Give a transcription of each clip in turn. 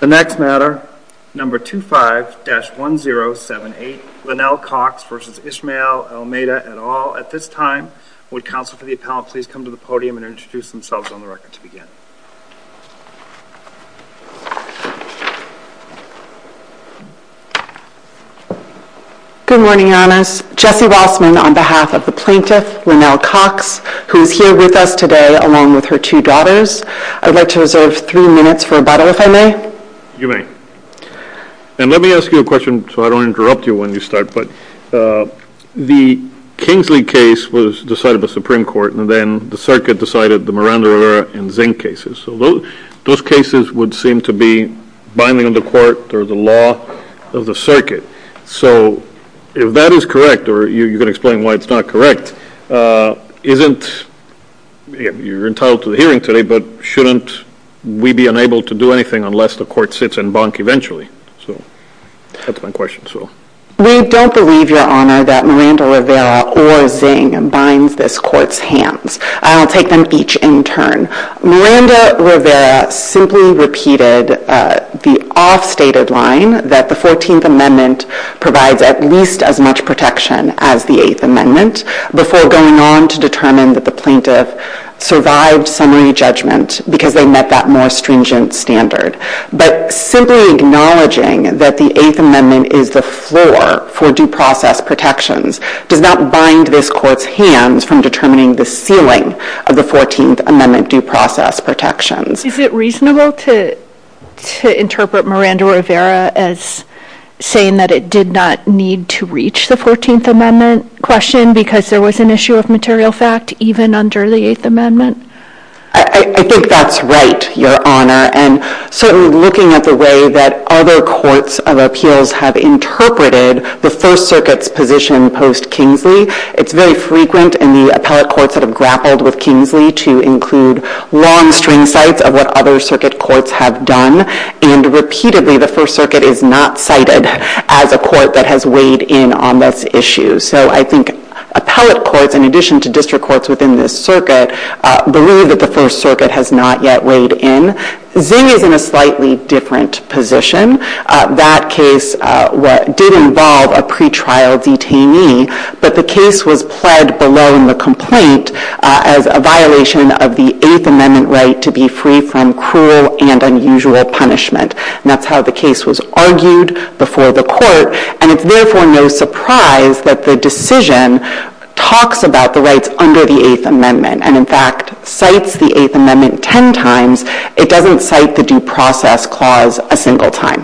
The next matter, number 25-1078, Linnell Cox versus Ishmael Almeida et al. At this time, would counsel for the appellant please come to the podium and introduce themselves on the record to begin. Good morning, your honors. Jesse Rossman on behalf of the plaintiff, Linnell Cox, who is here with us today along with her two daughters. I'd like to reserve three minutes for rebuttal if I may. You may. And let me ask you a question so I don't interrupt you when you start, but the Kingsley case was decided by the Supreme Court and then the circuit decided the Miranda-Rivera and Zink cases. So those cases would seem to be binding on the court or the law of the circuit. So if that is correct, or you can explain why it's not correct, isn't, you're entitled to the hearing today, but shouldn't we be unable to do anything unless the court sits and bunk eventually? So that's my question. We don't believe, your honor, that Miranda-Rivera or Zink binds this court's hands. I'll take them each in turn. Miranda-Rivera simply repeated the off-stated line that the 14th Amendment provides at least as much protection as the 8th Amendment before going on to determine that the plaintiff survived summary judgment because they met that more stringent standard. But simply acknowledging that the 8th Amendment is the floor for due process protections does not bind this court's hands from determining the ceiling of the 14th Amendment due process protections. Is it reasonable to interpret Miranda-Rivera as saying that it did not need to reach the 14th Amendment question because there was an issue of material fact even under the 8th Amendment? I think that's right, your honor. And certainly looking at the way that other courts of appeals have interpreted the First Circuit's position post-Kingsley, it's very frequent in the appellate courts that have grappled with Kingsley to include long string cites of what other circuit courts have done, and repeatedly the First Circuit is not cited as a court that has weighed in on this issue. So I think appellate courts, in addition to district courts within this circuit, believe that the First Circuit has not yet weighed in. Zink is in a slightly different position. That case did involve a pretrial detainee, but the case was pled below in the complaint as a violation of the 8th Amendment right to be free from cruel and unusual punishment. And that's how the case was argued before the court, and it's therefore no surprise that the decision talks about the rights under the 8th Amendment and, in fact, cites the 8th Amendment 10 times. It doesn't cite the due process clause a single time.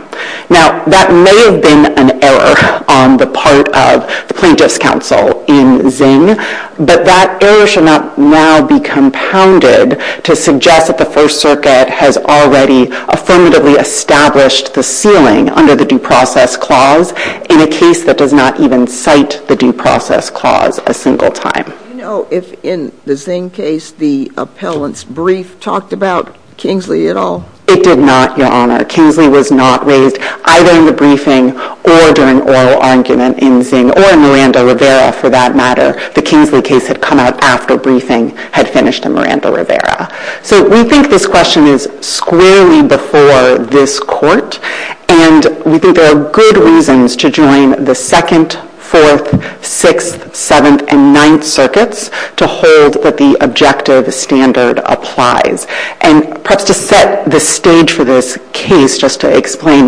Now, that may have been an error on the part of the plaintiff's counsel in Zink, but that error should not now be compounded to suggest that the First Circuit has already affirmatively established the ceiling under the due process clause in a case that does not even cite the due process clause a single time. Do you know if, in the Zink case, the appellant's brief talked about Kingsley at all? It did not, Your Honor. Kingsley was not raised either in the briefing or during oral argument in Zink or in Miranda-Rivera, for that matter. The Kingsley case had come out after briefing had finished in Miranda-Rivera. So we think this question is squarely before this court, and we think there are good reasons to join the Second, Fourth, Sixth, Seventh, and Ninth Circuits to hold that the objective standard applies. And perhaps to set the stage for this case, just to explain,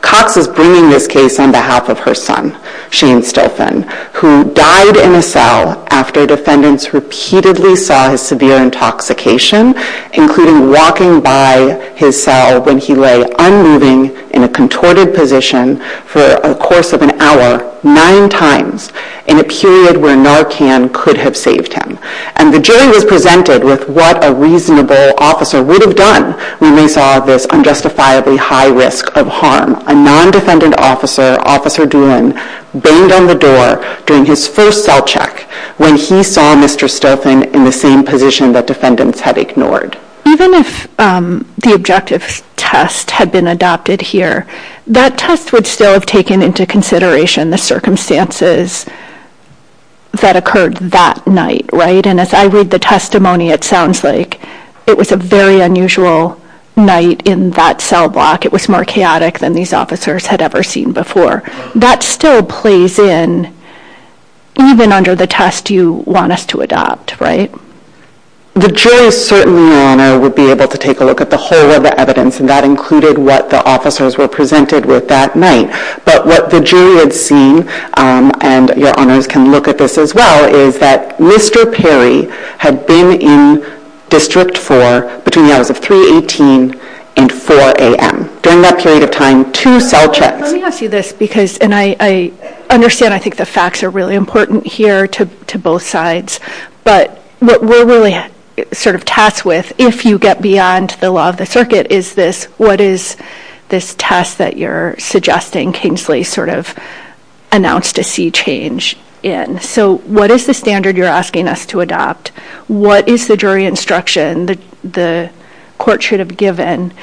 Cox is bringing this case on behalf of her son, Shane Stilfen, who died in a cell after defendants repeatedly saw his severe intoxication, including walking by his cell when he lay unmoving in a contorted position for a course of an hour nine times in a period where Narcan could have saved him. And the jury was presented with what a reasonable officer would have done when they saw this unjustifiably high risk of harm. A non-defendant officer, Officer Doolin, banged on the door during his first cell check when he saw Mr. Stilfen in the same position that defendants had ignored. Even if the objective test had been here, that test would still have taken into consideration the circumstances that occurred that night, right? And as I read the testimony, it sounds like it was a very unusual night in that cell block. It was more chaotic than these officers had ever seen before. That still plays in even under the test you want us to adopt, right? The jury certainly, Your Honor, would be able to look at the whole of the evidence, and that included what the officers were presented with that night. But what the jury had seen, and Your Honors can look at this as well, is that Mr. Perry had been in District 4 between the hours of 3.18 and 4 a.m. During that period of time, two cell checks... Let me ask you this because, and I understand, I think the facts are really important here to both sides, but what we're really sort of tasked with, if you get beyond the law of the circuit, is this, what is this test that you're suggesting Kingsley sort of announced to see change in? So what is the standard you're asking us to adopt? What is the jury instruction that the court should have given?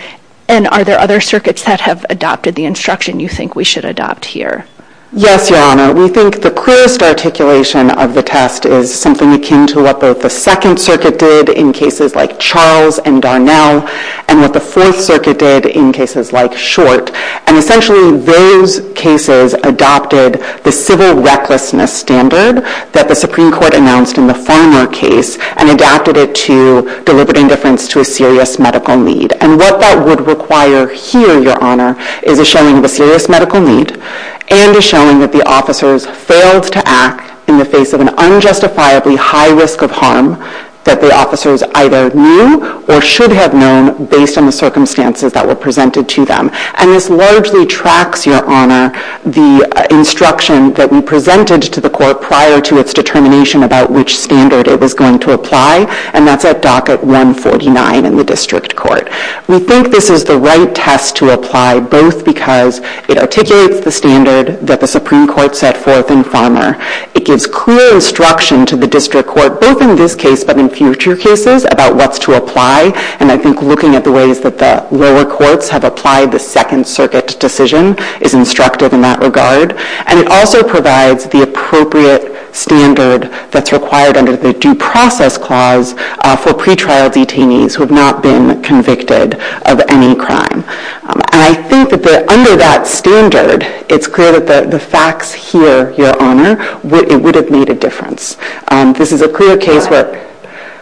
And are there other circuits that have adopted the instruction you think we should adopt here? Yes, Your Honor. We think the clearest articulation of the test is something akin to what both the Second Circuit did in cases like Charles and Darnell, and what the Fourth Circuit did in cases like Short. And essentially those cases adopted the civil recklessness standard that the Supreme Court announced in the Farmer case, and adapted it to deliberate indifference to a serious medical need. And what that would require here, Your Honor, is a showing of a serious medical need, and a showing that the officers failed to act in the face of an unjustifiably high risk of harm that the officers either knew or should have known based on the circumstances that were presented to them. And this largely tracks, Your Honor, the instruction that we presented to the court prior to its determination about which standard it was going to apply, and that's at docket 149 in the District Court. We think this is the right test to apply, both because it articulates the standard that the Supreme Court set forth in Farmer. It gives clear instruction to the District Court, both in this case but in future cases, about what's to apply. And I think looking at the ways that the lower courts have applied the Second Circuit decision is instructive in that regard. And it also provides the appropriate standard that's required under the Due Process Clause for pretrial detainees who have not been convicted of any crime. And I think that under that standard, it's clear that the facts here, Your Honor, it would have made a difference. This is a clear case where...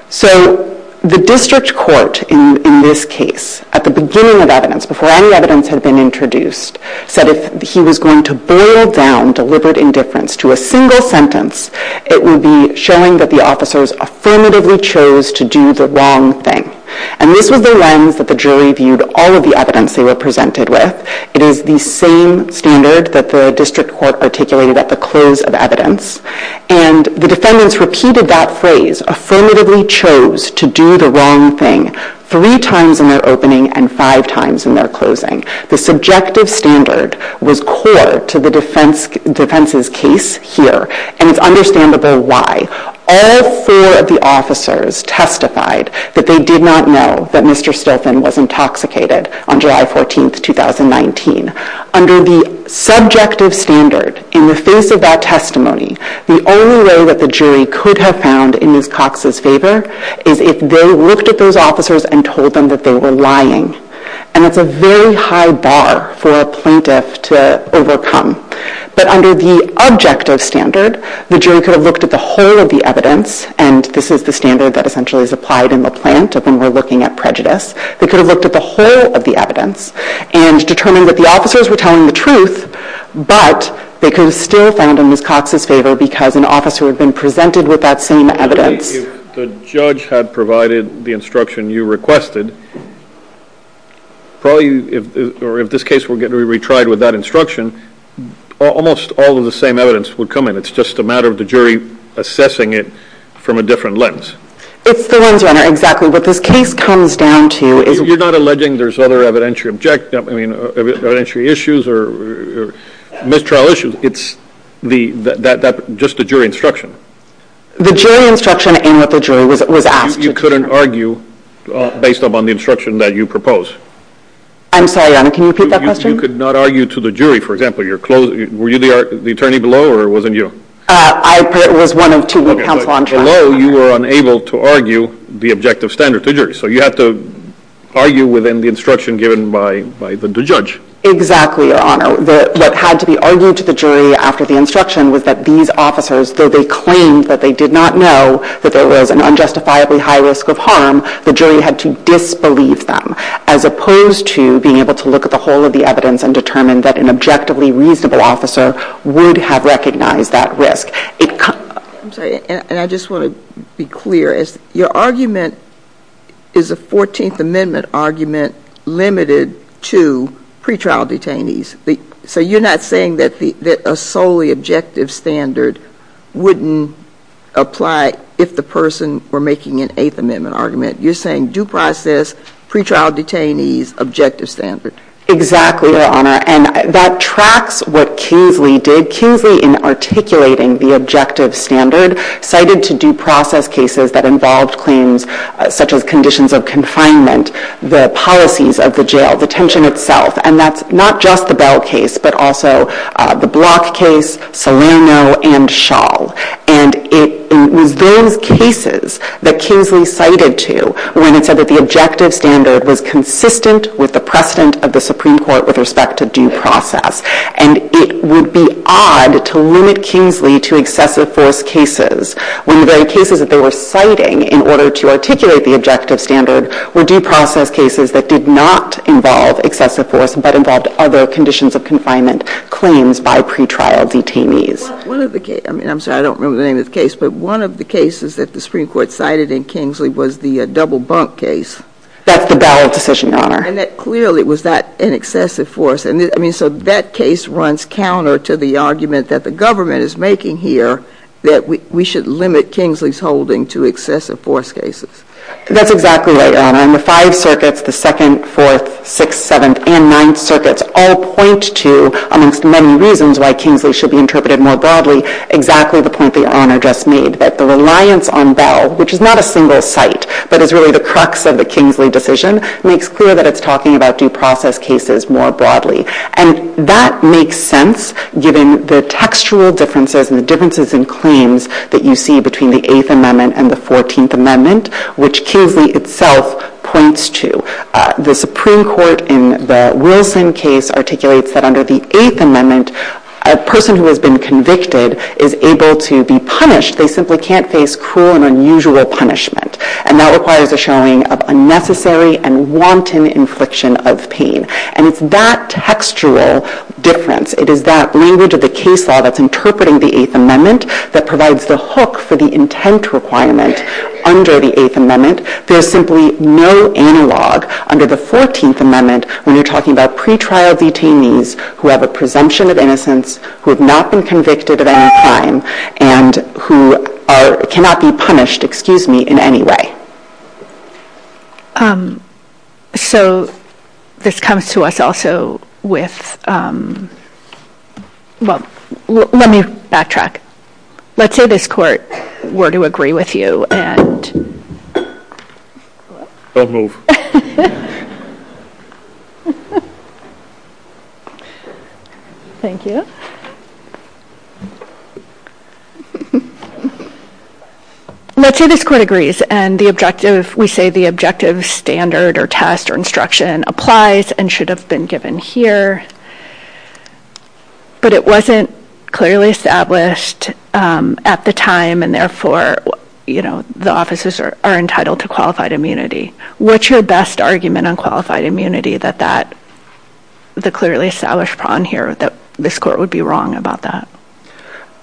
So the District Court in this case, at the beginning of evidence, before any evidence had been introduced, said if he was going to boil down deliberate indifference to a single sentence, it would be showing that the officers affirmatively chose to do the wrong thing. And this was the lens that the jury viewed all of the evidence they were presented with. It is the same standard that the District Court articulated at the close of evidence. And the defendants repeated that phrase, affirmatively chose to do the wrong thing, three times in their opening and five times in their closing. The subjective standard was core to the defense's case here, and it's understandable why. All four of the officers testified that they did not know that Mr. Stolfin was intoxicated on July 14, 2019. Under the subjective standard, in the face of that testimony, the only way that the jury could have found in Ms. Cox's favor is if they looked at those officers and told them that they were lying. And that's a very high bar for a plaintiff to overcome. But under the objective standard, the jury could have looked at the whole of the evidence, and this is the standard that essentially is applied in LaPlante when we're looking at prejudice. They could have looked at the whole of the evidence and determined that the officers were telling the truth, but they could have still found in Ms. Cox's favor because an officer had been presented with that same evidence. If the judge had provided the instruction you requested, probably, or if this case were to be retried with that instruction, almost all of the same evidence would come in. It's just a matter of the jury assessing it from a different lens. It's the lens, Your Honor, exactly. What this case comes down to is... You're not alleging there's other evidentiary issues or mistrial issues. It's just the jury instruction. The jury instruction and what the jury was asked to determine. You couldn't argue based upon the instruction that you propose. I'm sorry, Your Honor, can you repeat that question? You could not argue to the jury, for example. Were you the attorney below, or it wasn't you? I was one of two counsel on trial. Okay, so below, you were unable to argue the objective standard to the jury. So you had to argue within the instruction given by the judge. Exactly, Your Honor. What had to be argued to the jury after the instruction was that these officers, though they claimed that they did not know that there was an unjustifiably high risk of harm, the jury had to disbelieve them, as opposed to being able to look at the whole of the evidence and determine that an objectively reasonable officer would have recognized that risk. I'm sorry, and I just want to be clear. Your argument is a 14th Amendment argument limited to pretrial detainees. So you're not saying that a solely objective standard wouldn't apply if the person were making an 8th Amendment argument. You're saying due process, pretrial detainees, objective standard. Exactly, Your Honor, and that tracks what Kingsley did. Kingsley, in articulating the objective standard, cited to due process cases that involved claims such as conditions of confinement, the policies of the jail, detention itself, and that's not just the Bell case, but also the Block case, Salerno, and Schall. And it was those cases that Kingsley cited to when it said that the objective standard was consistent with the precedent of the Supreme Court with respect to due process. And it would be odd to limit Kingsley to excessive force cases when the very cases that they were citing in order to articulate the objective standard were due process cases that did not involve excessive force, but involved other conditions of confinement claims by pretrial detainees. One of the cases, I mean, I'm sorry, I don't remember the name of the case, but one of the cases that the Supreme Court cited in Kingsley was the double bunk case. That's the Bell decision, Your Honor. And that clearly was not an excessive force. And I mean, so that case runs counter to the argument that the government is making here that we should limit Kingsley's holding to excessive force cases. That's exactly right, Your Honor. And the five circuits, the Second, Fourth, Sixth, Seventh, and Ninth circuits all point to, amongst many reasons why Kingsley should be interpreted more broadly, exactly the point that Your Honor just made, that the reliance on Bell, which is not a single site, but is really the crux of the Kingsley decision, makes clear that it's talking about due process cases more broadly. And that makes sense, given the textual differences and the differences in claims that you see between the Eighth Amendment and the Fourteenth Amendment, which Kingsley itself points to. The Supreme Court in the Wilson case articulates that under the Eighth Amendment, a person who has been convicted is able to be punished. They simply can't face cruel and unusual punishment. And that requires a showing of unnecessary and wanton infliction of pain. And it's that textual difference, it is that language of the case law that's interpreting the Eighth Amendment that provides the hook for the intent requirement under the Eighth Amendment. There's simply no analog under the Fourteenth Amendment when you're talking about pretrial detainees who have a presumption of innocence, who have not been convicted of any crime, and who cannot be punished, excuse me, in any way. Um, so this comes to us also with, um, well, let me backtrack. Let's say this court were to agree with you, and... Don't move. Thank you. Let's say this court agrees, and the objective, we say the objective standard or test or instruction applies and should have been given here, but it wasn't clearly established, um, at the time, and therefore, you know, the officers are entitled to qualified immunity. What's your best argument on qualified immunity that that, the clearly established prong here that this court would be wrong about that?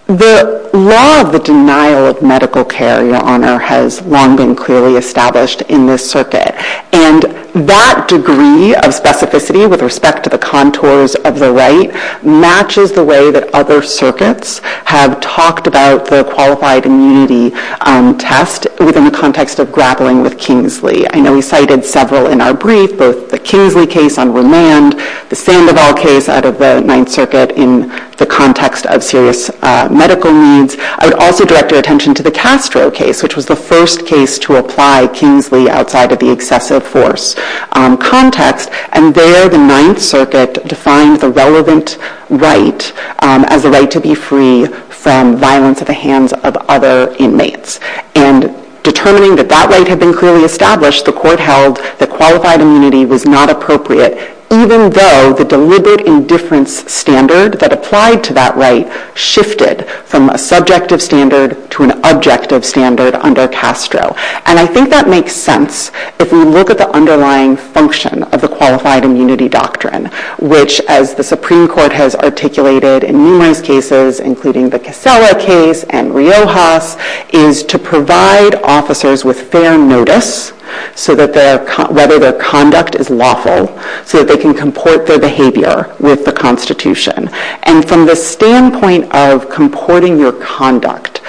The law of the denial of medical care, Your Honor, has long been clearly established in this circuit, and that degree of specificity with respect to the contours of the right matches the way that other circuits have talked about the qualified immunity, um, test within the context of grappling with Kingsley. I know we cited several in our brief, both the Kingsley case on remand, the Sandoval case out of the Ninth Circuit in the context of serious, uh, medical needs. I would also direct your attention to the Castro case, which was the first case to apply Kingsley outside of the excessive force, um, context, and there the Ninth Circuit defined the relevant right, um, as a right to be free from violence at the hands of other inmates, and determining that that right had been clearly established, the court held that qualified immunity was not appropriate, even though the deliberate indifference standard that applied to that right shifted from a subjective standard to an objective standard under Castro. And I think that makes sense if we look at the underlying function of the qualified immunity doctrine, which, as the Supreme Court has articulated in numerous cases, including the Casella case and Riojas, is to provide officers with fair notice, so that their, whether their conduct is lawful, so that they can comport their behavior with the Constitution. And from the standpoint of comporting your conduct,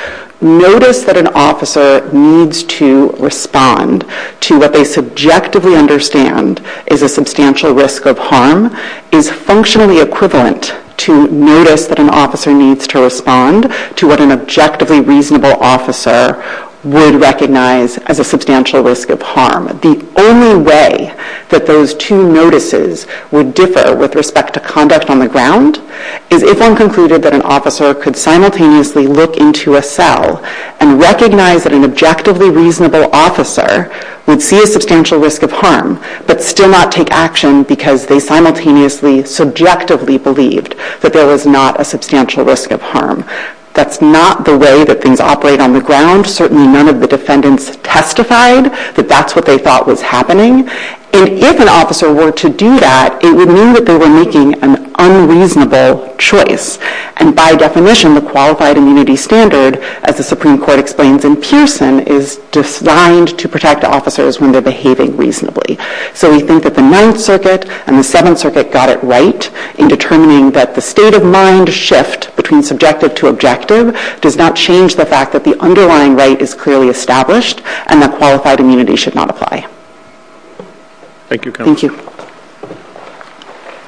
notice that an officer needs to respond to what they subjectively understand is a substantial risk of harm, is functionally equivalent to notice that an officer needs to respond to what an objectively reasonable officer would recognize as a substantial risk of harm. The only way that those two notices would differ with respect to conduct on the ground is if one concluded that an officer could simultaneously look into a cell and recognize that an objectively reasonable officer would see a substantial risk of harm, but still not take action because they simultaneously subjectively believed that there was not a substantial risk of harm. That's not the way that things operate on the ground. Certainly none of the defendants testified that that's what they thought was happening. And if an officer were to do that, it would mean that they were making an unreasonable choice. And by definition, the qualified immunity standard, as the Supreme Court explains in Pearson, is designed to protect officers when they're behaving reasonably. So we think that the Ninth Circuit and the Seventh Circuit got it right in determining that the state of mind shift between subjective to objective does not change the fact that the underlying right is clearly established and that qualified immunity should not apply. Thank you, counsel. Thank you.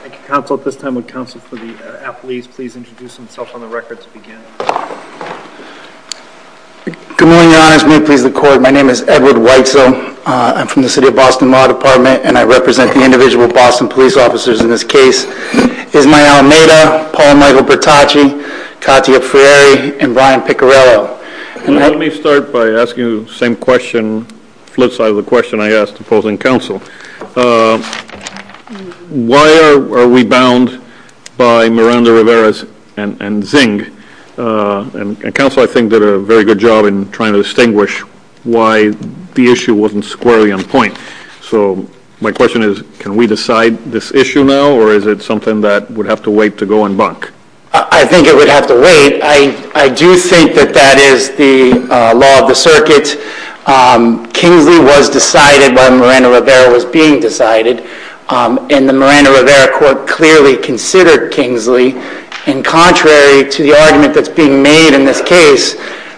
Thank you, counsel. At this time, would counsel for the athletes please introduce themselves on the record to begin? Good morning, Your Honors. May it please the Court. My name is Edward Whitesell. I'm from the City of Boston Law Department and I individual Boston police officers in this case. Ismael Almeida, Paul Michael Bertacci, Katia Ferreri, and Ryan Picarello. Let me start by asking you the same question, flip side of the question I asked opposing counsel. Why are we bound by Miranda-Rivera's and Zing? And counsel, I think, did a very good job in trying to distinguish why the issue wasn't squarely on point. So my question is can we decide this issue now or is it something that would have to wait to go and bunk? I think it would have to wait. I do think that that is the law of the circuit. Kingsley was decided by Miranda-Rivera was being decided and the Miranda-Rivera court clearly considered Kingsley and contrary to the argument that's made in this case,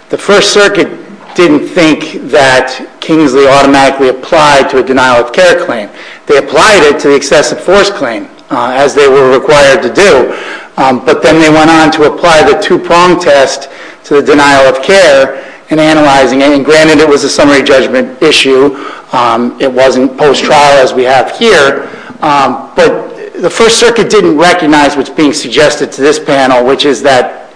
the First Circuit didn't think that Kingsley automatically applied to a denial of care claim. They applied it to the excessive force claim as they were required to do. But then they went on to apply the two-prong test to the denial of care and analyzing it. And granted it was a summary judgment issue. It wasn't post-trial as we have here. But the First Circuit didn't recognize what's being suggested to this panel, which is that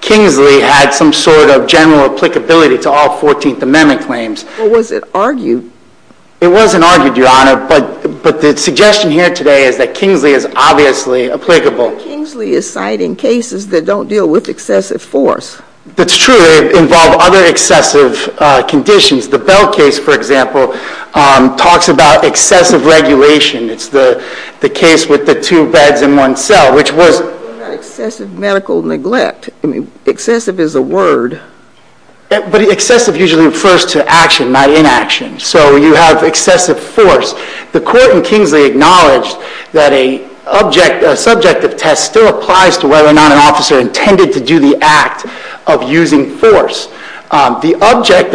Kingsley had some sort of general applicability to all 14th Amendment claims. Well, was it argued? It wasn't argued, Your Honor. But the suggestion here today is that Kingsley is obviously applicable. Kingsley is citing cases that don't deal with excessive force. That's true. They involve other excessive conditions. The Bell case, for example, talks about excessive regulation. It's the case with the two beds in one cell, which was... Excessive medical neglect. Excessive is a word. But excessive usually refers to action, not inaction. So you have excessive force. The court in Kingsley acknowledged that a subject of test still applies to whether or not an officer intended to do the act of using force. The object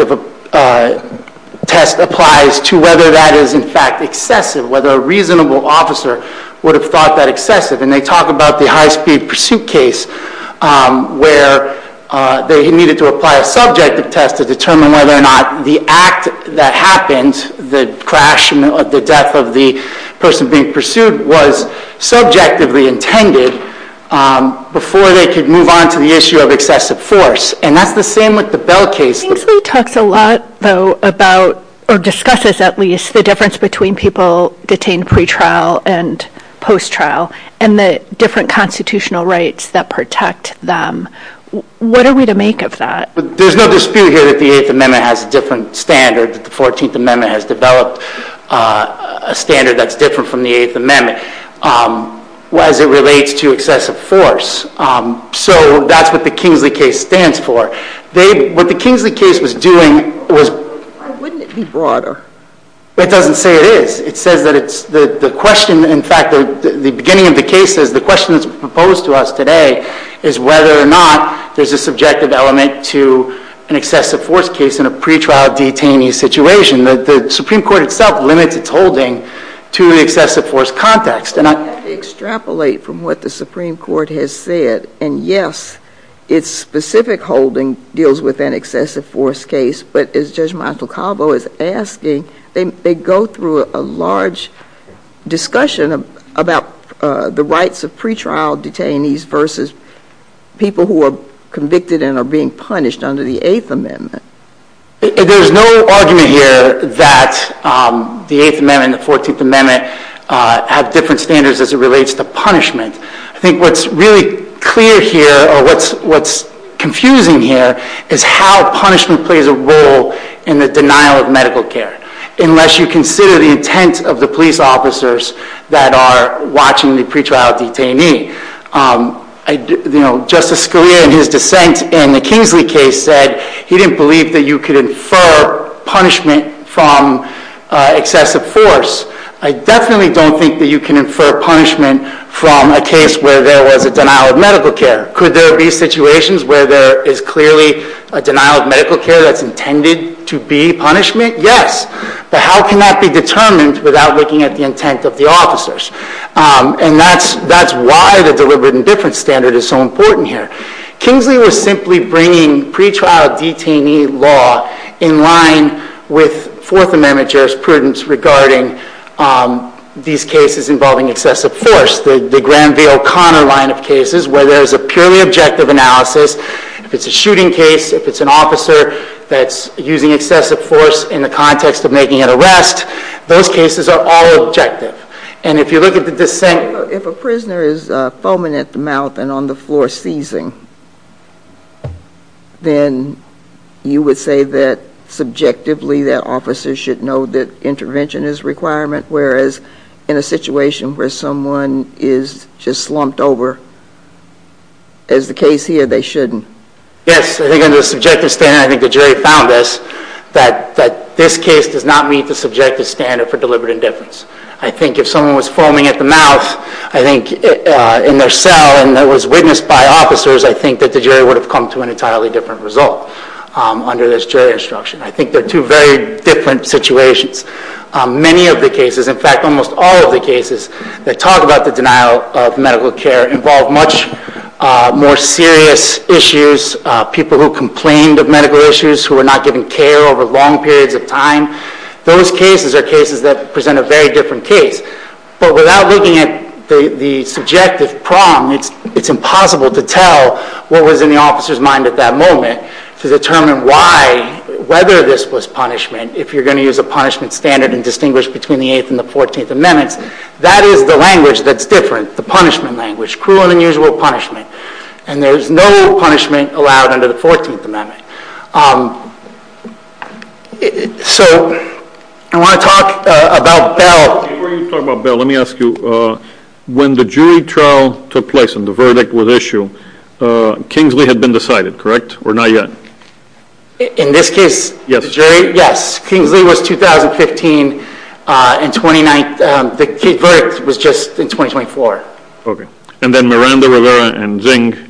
test applies to whether that is in fact excessive, whether a reasonable officer would have thought that excessive. And they talk about the high-speed pursuit case where they needed to apply a subjective test to determine whether or not the act that happened, the crash or the death of the person being pursued, was subjectively intended before they could move on to the issue of excessive force. And that's the same with the Bell case. Kingsley talks a lot, though, about, or discusses at least, the difference between people detained pre-trial and post-trial and the different constitutional rights that protect them. What are we to make of that? There's no dispute here that the 8th Amendment has a different standard, that the 14th Amendment has developed a standard that's different from the 8th Amendment as it relates to excessive force. So that's what the Kingsley case stands for. What the Kingsley case was doing was... Well, wouldn't it be broader? It doesn't say it is. It says that the question, in fact, the beginning of the case says the question that's proposed to us today is whether or not there's a subjective element to an excessive force case in a pre-trial detainee situation. The Supreme Court itself limits its holding to the excessive force context. I have to extrapolate from what the Supreme Court has said. And yes, its specific holding deals with an excessive force case. But as Judge Montalcavo is asking, they go through a large discussion about the rights of pre-trial detainees versus people who are convicted and are being punished under the 8th Amendment. There's no argument here that the 8th Amendment and the 14th Amendment have different standards as it relates to punishment. I think what's really clear here, or what's confusing here, is how punishment plays a role in the denial of medical care, unless you consider the intent of the police officers that are watching the pre-trial detainee. Justice Scalia in his dissent in the Kingsley case said he didn't believe that you could infer punishment from excessive force. I definitely don't think that you can infer punishment from a case where there was a denial of medical care. Could there be situations where there is clearly a denial of medical care that's intended to be punishment? Yes. But how can that be determined without looking at the intent of the officers? And that's why the deliberate indifference standard is so important here. Kingsley was simply bringing pre-trial detainee law in line with 4th Amendment jurisprudence regarding these cases involving excessive force. The Granville-Conner line of cases, where there's a purely objective analysis, if it's a shooting case, if it's an officer that's using excessive force in the context of making an arrest, those cases are all objective. And if you look at the dissent... If a prisoner is foaming at the mouth and on the floor seizing, then you would say that subjectively that officers should know that intervention is requirement, whereas in a situation where someone is just slumped over, as the case here, they shouldn't. Yes. I think under the subjective standard, I think the jury found this, that this case does not meet the subjective standard for deliberate indifference. I think if someone was foaming at the mouth, I think in their cell and that was witnessed by officers, I think that the jury would have come to an entirely different result under this jury instruction. I think they're two very different situations. Many of the cases, in fact, almost all of the cases that talk about the denial of medical care involve much more serious issues, people who complained of medical issues, who were not given care over long periods of time. Those cases are cases that present a very different case. But without looking at the subjective prong, it's impossible to tell what was in the officer's mind at that moment to determine why, whether this was punishment. If you're going to use a punishment standard and distinguish between the Eighth and the Fourteenth Amendments, that is the language that's different, the punishment language, cruel and unusual punishment. And there's no punishment allowed under the Fourteenth Amendment. So I want to talk about Bell. Before you talk about Bell, let me ask you, when the jury trial took place and the verdict was issued, Kingsley had been decided, correct? Or not yet? In this case, the jury? Yes. Kingsley was 2015 and the verdict was just in 2024. Okay. And then Miranda-Rivera and Zingg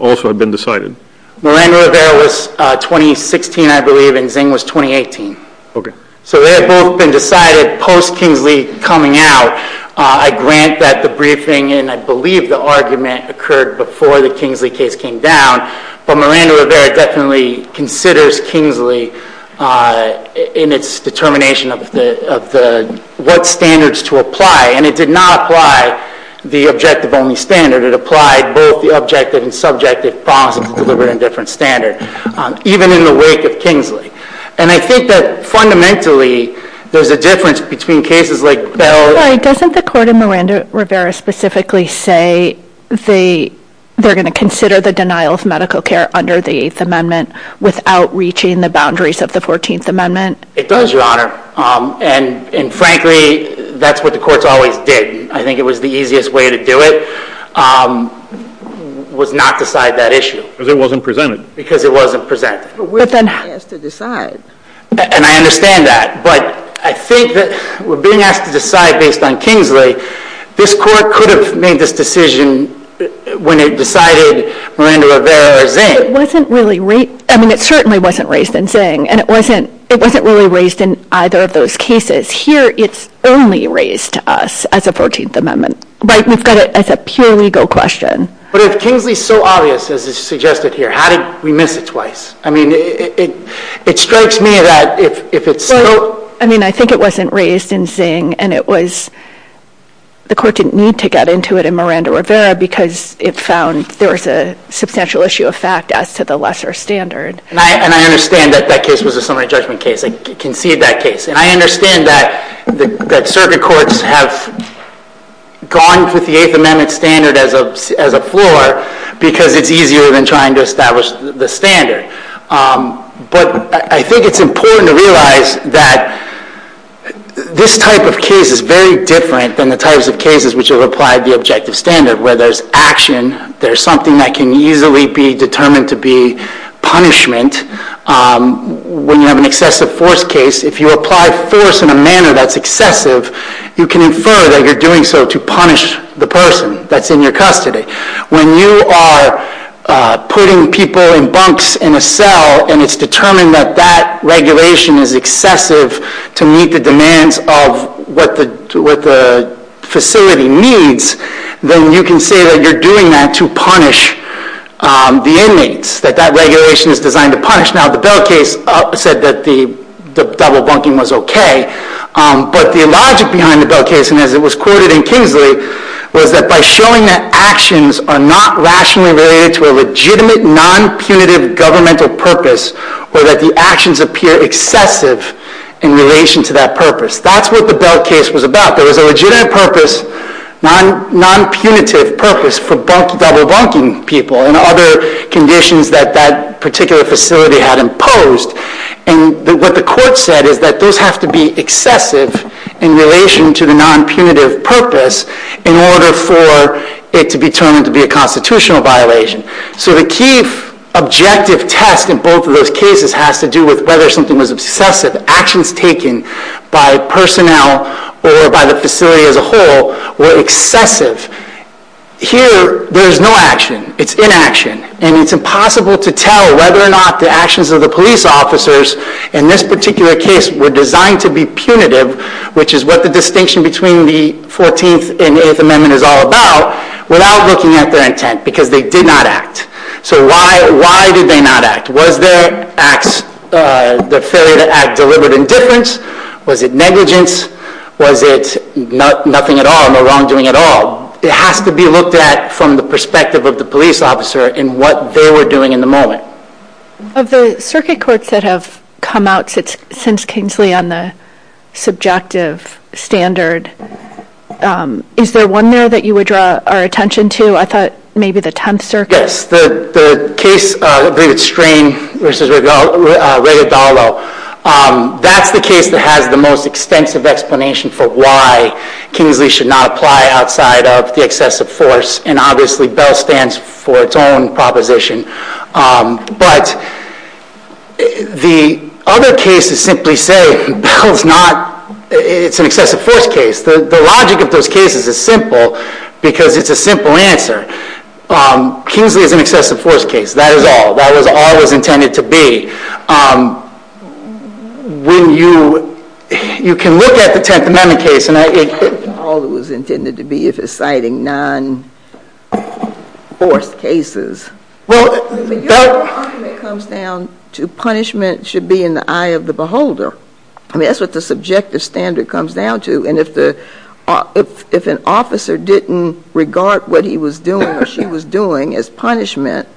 also had been decided? Miranda-Rivera was 2016, I believe, and Zingg was 2018. Okay. So they had both been decided post Kingsley coming out. I grant that the briefing, and I believe the argument occurred before the Kingsley case came down, but Miranda-Rivera definitely considers Kingsley in its determination of what standards to apply. And it did not apply the objective-only standard. It applied both the objective and subjective promise of delivering a different standard, even in the wake of Kingsley. And I think that fundamentally, there's a difference between cases like Bell. Doesn't the court in Miranda-Rivera specifically say they're going to consider the denial of medical care under the Eighth Amendment without reaching the boundaries of the Fourteenth Amendment? It does, Your Honor. And frankly, that's what the courts always did. I think it was the easiest way to do it, was not decide that issue. Because it wasn't presented. Because it wasn't presented. But we're being asked to decide. And I understand that. But I think that we're being asked to decide based on Kingsley. This Court could have made this decision when it decided Miranda-Rivera or Zingg. It certainly wasn't raised in Zingg. And it wasn't really raised in either of those cases. Here, it's only raised to us as a Fourteenth Amendment. We've got it as a pure legal question. But if Kingsley's so obvious, as is suggested here, how did we miss it twice? I mean, it strikes me that if it's still... I mean, I think it wasn't raised in Zingg. And the Court didn't need to get into it in Miranda-Rivera because it found there was a substantial issue of fact as to the lesser standard. And I understand that that case was a summary judgment case. I concede that case. And I understand that circuit courts have gone with the Eighth Amendment standard as a floor because it's easier than trying to establish the standard. But I think it's important to realize that this type of case is very different than the types of cases which have applied the objective standard, where there's action, there's something that can easily be determined to be punishment. When you have an excessive force case, if you apply force in a manner that's excessive, you can infer that you're doing so to punish the person that's in your custody. When you are putting people in bunks in a cell, and it's determined that that regulation is to meet the demands of what the facility needs, then you can say that you're doing that to punish the inmates, that that regulation is designed to punish. Now, the Bell case said that the double bunking was okay. But the logic behind the Bell case, and as it was quoted in Kingsley, was that by showing that actions are not rationally related to a legitimate, non-punitive governmental purpose, or that the actions appear excessive in relation to that purpose. That's what the Bell case was about. There was a legitimate purpose, non-punitive purpose for double bunking people and other conditions that that particular facility had imposed. And what the court said is that those have to be excessive in relation to the non-punitive purpose in order for it to be determined to be a constitutional violation. So the key objective test in both of those cases has to do with whether something was obsessive. Actions taken by personnel or by the facility as a whole were excessive. Here, there's no action. It's inaction. And it's impossible to tell whether or not the actions of the police officers in this particular case were designed to be punitive, which is what the Fourteenth and Eighth Amendment is all about, without looking at their intent, because they did not act. So why did they not act? Was their failure to act deliberate indifference? Was it negligence? Was it nothing at all, no wrongdoing at all? It has to be looked at from the perspective of the police officer in what they were doing in the moment. Of the circuit courts that have come out since Kingsley on the subjective standard, is there one there that you would draw our attention to? I thought maybe the Tenth Circuit. Yes. The case, I believe it's Strain versus Regadalo. That's the case that has the most extensive explanation for why Kingsley should not apply outside of the excessive force. And obviously, BELL stands for its own proposition. But the other cases simply say BELL's not, it's an excessive force case. The logic of those cases is simple because it's a simple answer. Kingsley is an excessive force case. That is all. That was all it was intended to be. When you, you can look at the Tenth Amendment case and I, it was all it was intended to be if it's citing non-force cases. Well, but your argument comes down to punishment should be in the eye of the beholder. I mean, that's what the subjective standard comes down to. And if the, if an officer didn't regard what he was doing or she was doing as punishment,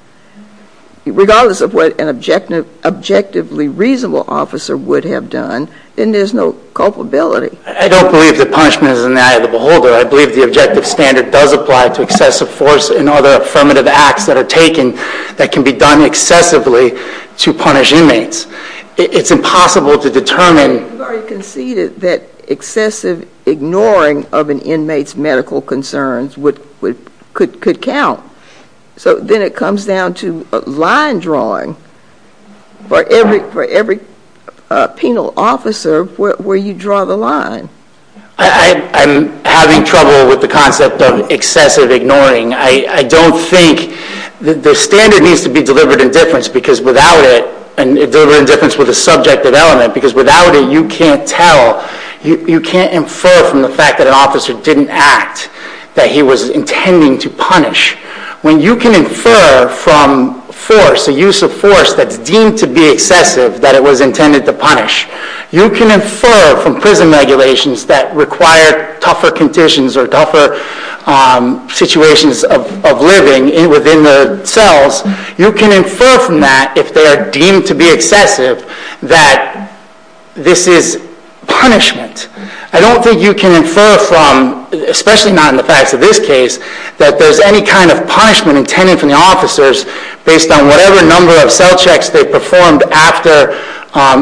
regardless of what an objective, objectively reasonable officer would have done, then there's no culpability. I don't believe that punishment is in the eye of the beholder. I believe the objective standard does apply to excessive force and other affirmative acts that are taken that can be done excessively to punish inmates. It's impossible to determine. You've already conceded that excessive ignoring of an inmate's medical concerns would, could count. So then it comes down to line drawing for every, for every penal officer where you draw the line. I, I'm having trouble with the concept of excessive ignoring. I don't think the standard needs to be delivered in difference because without it, and delivered in difference with a subjective element, because without it, you can't tell, you can't infer from the fact that an officer didn't act, that he was intending to punish. When you can infer from force, the use of force that's deemed to be excessive, that it was intended to punish. You can infer from prison regulations that require tougher conditions or tougher situations of, of living within the cells. You can infer from that if they are deemed to be excessive, that this is punishment. I don't think you can infer from, especially not in the facts of this case, that there's any kind of punishment intended for the officers based on whatever number of cell checks they performed after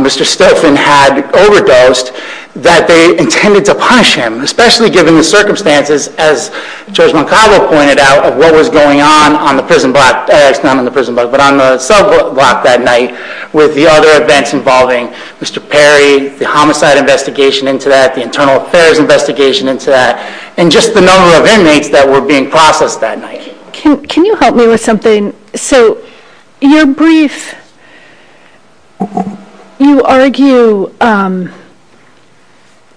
Mr. Stofan had overdosed, that they intended to punish him. Especially given the circumstances, as Judge Moncavo pointed out, of what was going on, on the prison block, not on the prison block, but on the cell block that night, with the other events involving Mr. Perry, the homicide investigation into that, the internal affairs investigation into that, and just the number of inmates that were being processed that night. Can, can you help me with something? So, your brief, you argue,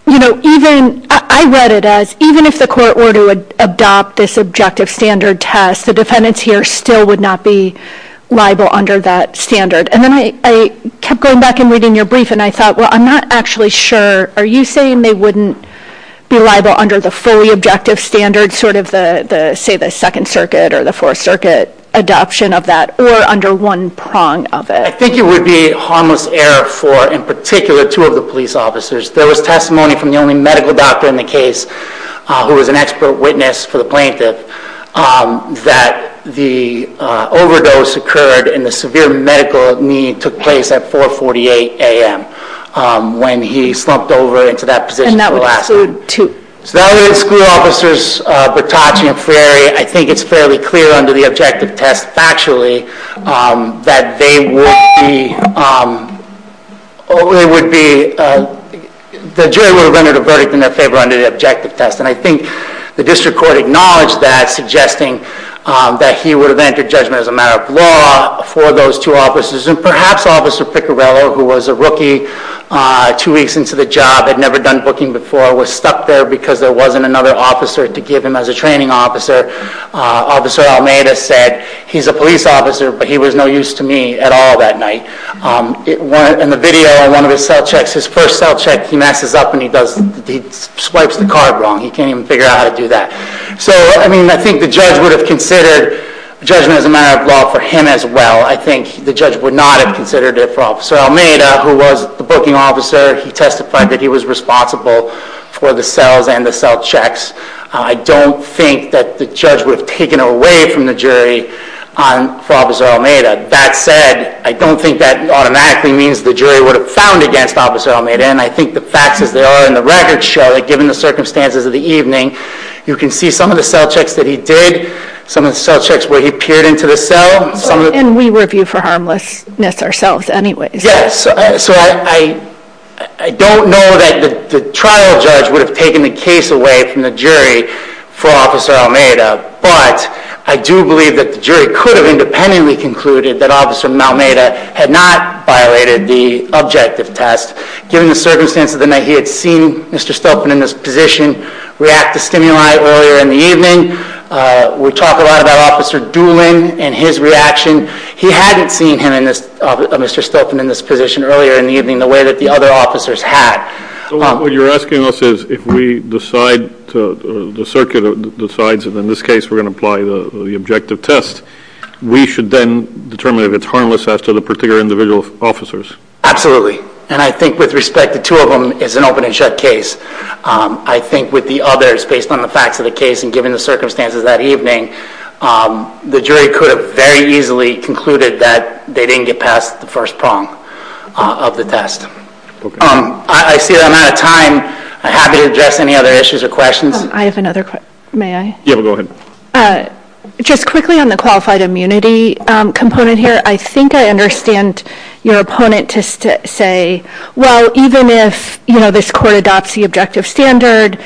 you know, even, I read it as, even if the court were to adopt this objective standard test, the defendants here still would not be liable under that standard. And then I, I kept going back and reading your brief, and I thought, well, I'm not actually sure, are you saying they wouldn't be liable under the fully objective standard, sort of the, the, say, the Second Circuit or the Fourth Circuit adoption of that, or under one prong of it? I think it would be harmless error for, in particular, two of the police officers. There was testimony from the only medical doctor in the case, who was an expert witness for the plaintiff, that the overdose occurred, and the severe medical need took place at 4 48 a.m., when he slumped over into that position. And that would include two? So, that would include school officers, Bertacci and Freire. I think it's fairly clear under the objective test, factually, that they would be, they would be, the jury would have rendered a favor under the objective test. And I think the district court acknowledged that, suggesting that he would have entered judgment as a matter of law for those two officers. And perhaps Officer Piccarello, who was a rookie, two weeks into the job, had never done booking before, was stuck there because there wasn't another officer to give him as a training officer. Officer Almeida said, he's a police officer, but he was no use to me at all that night. In the video, in one of his cell checks, his first cell check, he messes up and he does, he swipes the card wrong. He can't even figure out how to do that. So, I mean, I think the judge would have considered judgment as a matter of law for him as well. I think the judge would not have considered it for Officer Almeida, who was the booking officer. He testified that he was responsible for the cells and the cell checks. I don't think that the judge would have taken it away from the jury for Officer Almeida. That said, I don't think that automatically means the jury would have found against Officer Almeida. And I think the facts as they are in the record show, that given the circumstances of the evening, you can see some of the cell checks that he did, some of the cell checks where he peered into the cell. And we review for harmlessness ourselves anyways. Yes, so I don't know that the trial judge would have taken the case away from the jury for Officer Almeida. But I do believe that the jury could have independently concluded that Officer Almeida had not violated the objective test, given the circumstances of the night. He had seen Mr. Stolpen in this position react to stimuli earlier in the evening. We talk a lot about Officer Doolin and his reaction. He hadn't seen him, Mr. Stolpen, in this position earlier in the evening the way that the other officers had. What you're asking us is if we decide to, the circuit decides, and in this case we're going to apply the objective test, we should then determine if it's harmless as to the particular individual officers. Absolutely, and I think with respect the two of them is an open and shut case. I think with the others, based on the facts of the case and given the circumstances that evening, the jury could have very easily concluded that they didn't get past the first prong of the test. I see I'm out of time. I'm happy to address any other issues or questions. I have another question, may I? Yeah, go ahead. Just quickly on the qualified immunity component here, I think I understand your opponent to say, well, even if, you know, this court adopts the objective standard,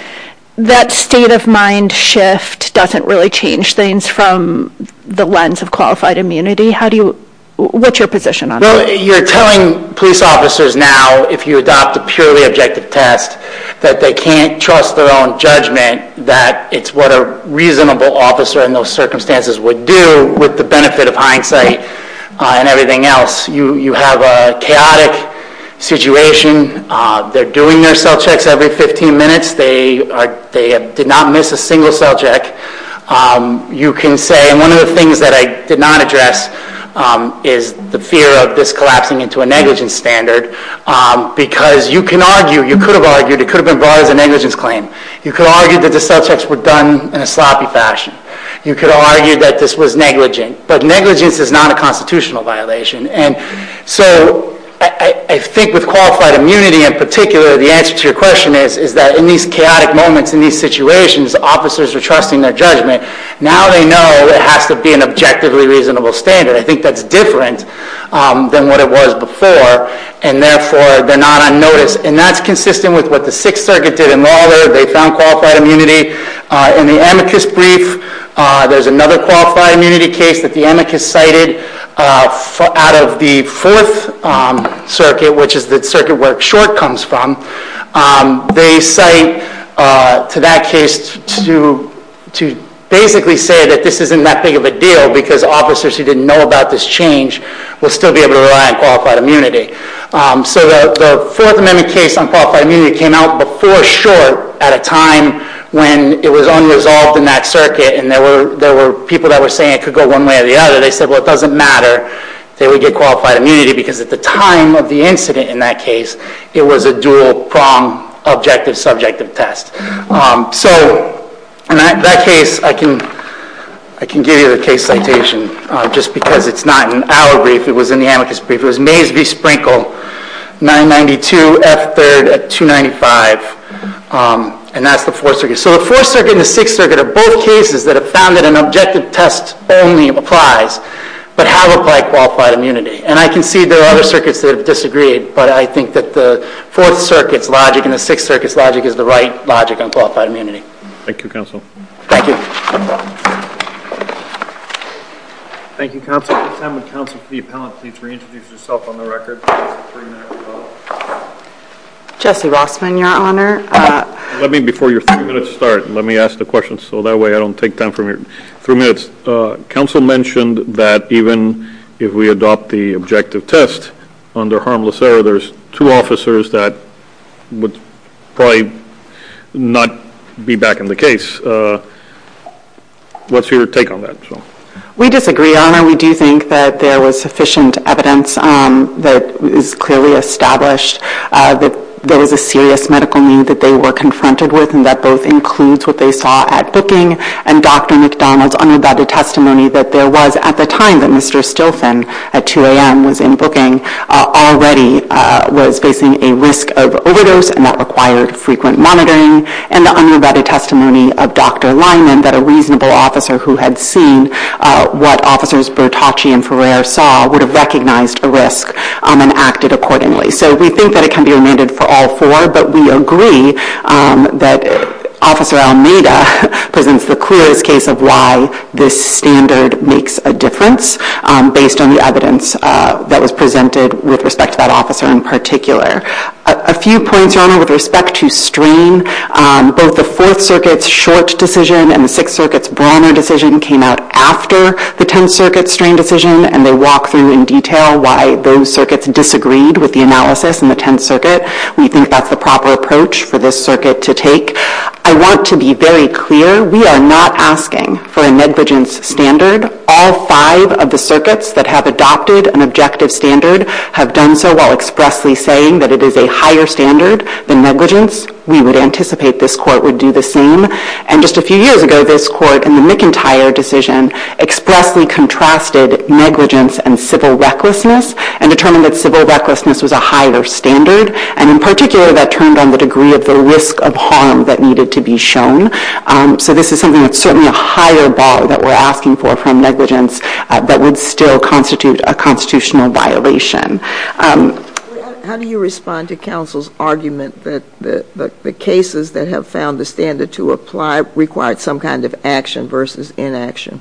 that state of mind shift doesn't really change things from the lens of qualified immunity. How do you, what's your position on that? Well, you're telling police officers now, if you adopt a purely objective test, that they can't trust their own judgment, that it's what a reasonable officer in those circumstances would do with the benefit of hindsight and everything else. You have a chaotic situation. They're doing their cell checks every 15 minutes. They did not miss a single cell check. You can say, and one of the things that I did not address is the fear of this collapsing into a negligence standard, because you can argue, you could have been brought as a negligence claim. You could argue that the cell checks were done in a sloppy fashion. You could argue that this was negligent, but negligence is not a constitutional violation. And so I think with qualified immunity in particular, the answer to your question is that in these chaotic moments, in these situations, officers are trusting their judgment. Now they know it has to be an objectively reasonable standard. I think that's different than what it was before, and therefore they're not on notice. And that's consistent with what the Sixth Circuit did in Lawlor. They found qualified immunity in the amicus brief. There's another qualified immunity case that the amicus cited out of the Fourth Circuit, which is the circuit where Short comes from. They cite to that case to basically say that this isn't that big of a deal, because officers who didn't know about this change will still be able to rely on qualified immunity. So the Fourth Amendment case on qualified immunity came out before Short at a time when it was unresolved in that circuit, and there were people that were saying it could go one way or the other. They said, well, it doesn't matter. They would get qualified immunity, because at the time of the incident in that case, it was a dual-prong objective-subjective test. So in that case, I can give you the case citation, just because it's not in our brief. It was in the amicus brief. It was Mays v. Sprinkle, 992 F. 3rd at 295, and that's the Fourth Circuit. So the Fourth Circuit and the Sixth Circuit are both cases that have found that an objective test only applies, but have applied qualified immunity. And I can see there are other circuits that have disagreed, but I think that the Fourth Circuit's logic and the Sixth Circuit's logic is the right logic on qualified immunity. Thank you, counsel. Thank you. Thank you, counsel. At this time, would counsel for the appellant please reintroduce yourself on the record? Jesse Rossman, your honor. Let me, before your three minutes start, let me ask the question, so that way I don't take time from your three minutes. Counsel mentioned that even if we adopt the objective test, under harmless error, there's two officers that would probably not be back in the case. What's your take on that? We disagree, your honor. We do think that there was sufficient evidence that is clearly established that there was a serious medical need that they were confronted with, and that both includes what they saw at booking, and Dr. McDonald's unabated testimony that there was at the time that Mr. Stilson at 2 a.m. was in booking already was facing a risk of overdose, and that required frequent monitoring, and the unabated testimony of Dr. Lyman that a reasonable officer who had seen what officers Bertacci and Ferrer saw would have recognized a risk and acted accordingly. So we think that it can be remanded for all four, but we agree that Officer Almeida presents the clearest case of why this standard makes a difference based on the evidence that was presented with respect to that officer in particular. A few points, your honor, with respect to strain. Both the Fourth Circuit's Short decision and the Sixth Circuit's Brawner decision came out after the Tenth Circuit's strain decision, and they walk through in detail why those circuits disagreed with the analysis in the Tenth Circuit. We think that's the proper approach for this circuit to take. I want to be very clear, we are not asking for a negligence standard. All five of the circuits that have adopted an objective standard have done so while expressly saying that it is a higher standard than negligence. We would anticipate this court would do the same, and just a few years ago this court in the McIntyre decision expressly contrasted negligence and civil recklessness and determined that civil recklessness and civil recklessness and a higher bar that we're asking for from negligence that would still constitute a constitutional violation. How do you respond to counsel's argument that the cases that have found the standard to apply required some kind of action versus inaction?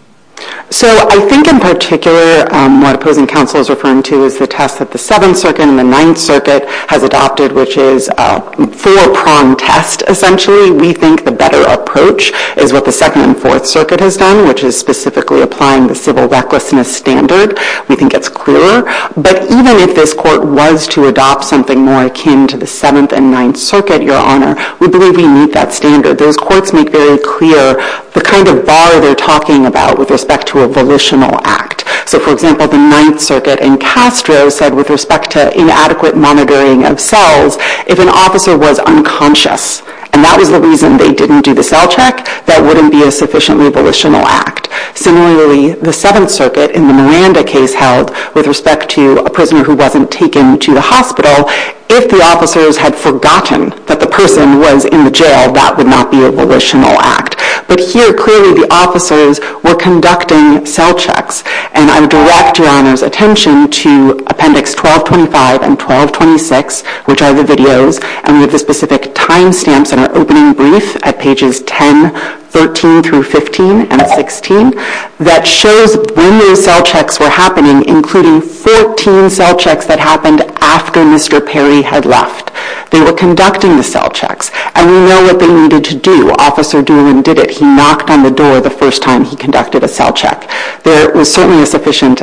So I think in particular what opposing counsel is referring to is the test that the Seventh Circuit and the Ninth Circuit has adopted, which is a four-prong test essentially. We think the better approach is what the Second and Fourth Circuit has done, which is specifically applying the civil recklessness standard. We think it's clearer, but even if this court was to adopt something more akin to the Seventh and Ninth Circuit, Your Honor, we believe we meet that standard. Those courts make very clear the kind of bar they're talking about with respect to a volitional act. So for example, the Ninth Circuit in Castro said with respect to inadequate monitoring of cells, if an officer was unconscious and that was the reason they didn't do the cell check, that wouldn't be a sufficiently volitional act. Similarly, the Seventh Circuit in the Miranda case held with respect to a prisoner who wasn't taken to the hospital, if the officers had forgotten that the person was in the jail, that would not be a volitional act. But here clearly the officers were conducting cell checks, and I would direct Your Honor's attention to Appendix 1225 and 1226, which are the videos, and we have the specific timestamps in our opening brief at pages 10, 13 through 15 and 16, that shows when those cell checks were happening, including 14 cell checks that happened after Mr. Perry had left. They were conducting the cell checks, and we know they needed to do, Officer Doolin did it. He knocked on the door the first time he conducted a cell check. There was certainly a sufficient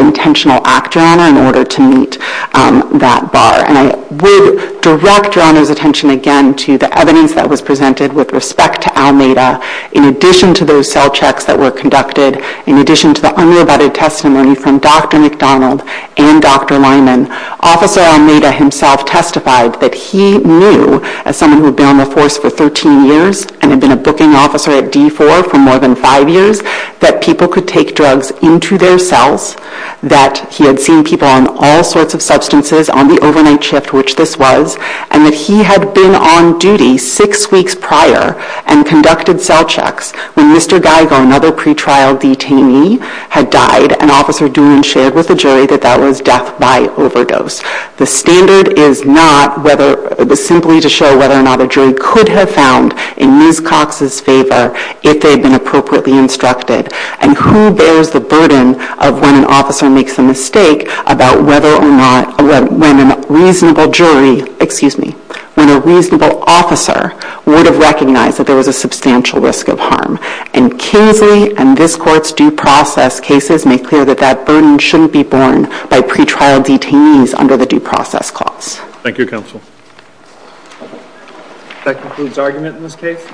intentional act, Your Honor, in order to meet that bar, and I would direct Your Honor's attention again to the evidence that was presented with respect to Almeida. In addition to those cell checks that were conducted, in addition to the unrebutted testimony from Dr. McDonald and Dr. Lyman, Officer Almeida himself testified that he knew, as someone who had been on the force for 13 years and had been a booking officer at D4 for more than five years, that people could take drugs into their cells, that he had seen people on all sorts of substances on the overnight shift, which this was, and that he had been on duty six weeks prior and conducted cell checks when Mr. Geiger, another pretrial detainee, had died, and Officer whether or not a jury could have found in Ms. Cox's favor if they had been appropriately instructed, and who bears the burden of when an officer makes a mistake about whether or not, when a reasonable jury, excuse me, when a reasonable officer would have recognized that there was a substantial risk of harm, and Kingsley and this Court's due process cases make clear that that burden shouldn't be by pretrial detainees under the due process clause. Thank you counsel. That concludes argument in this case.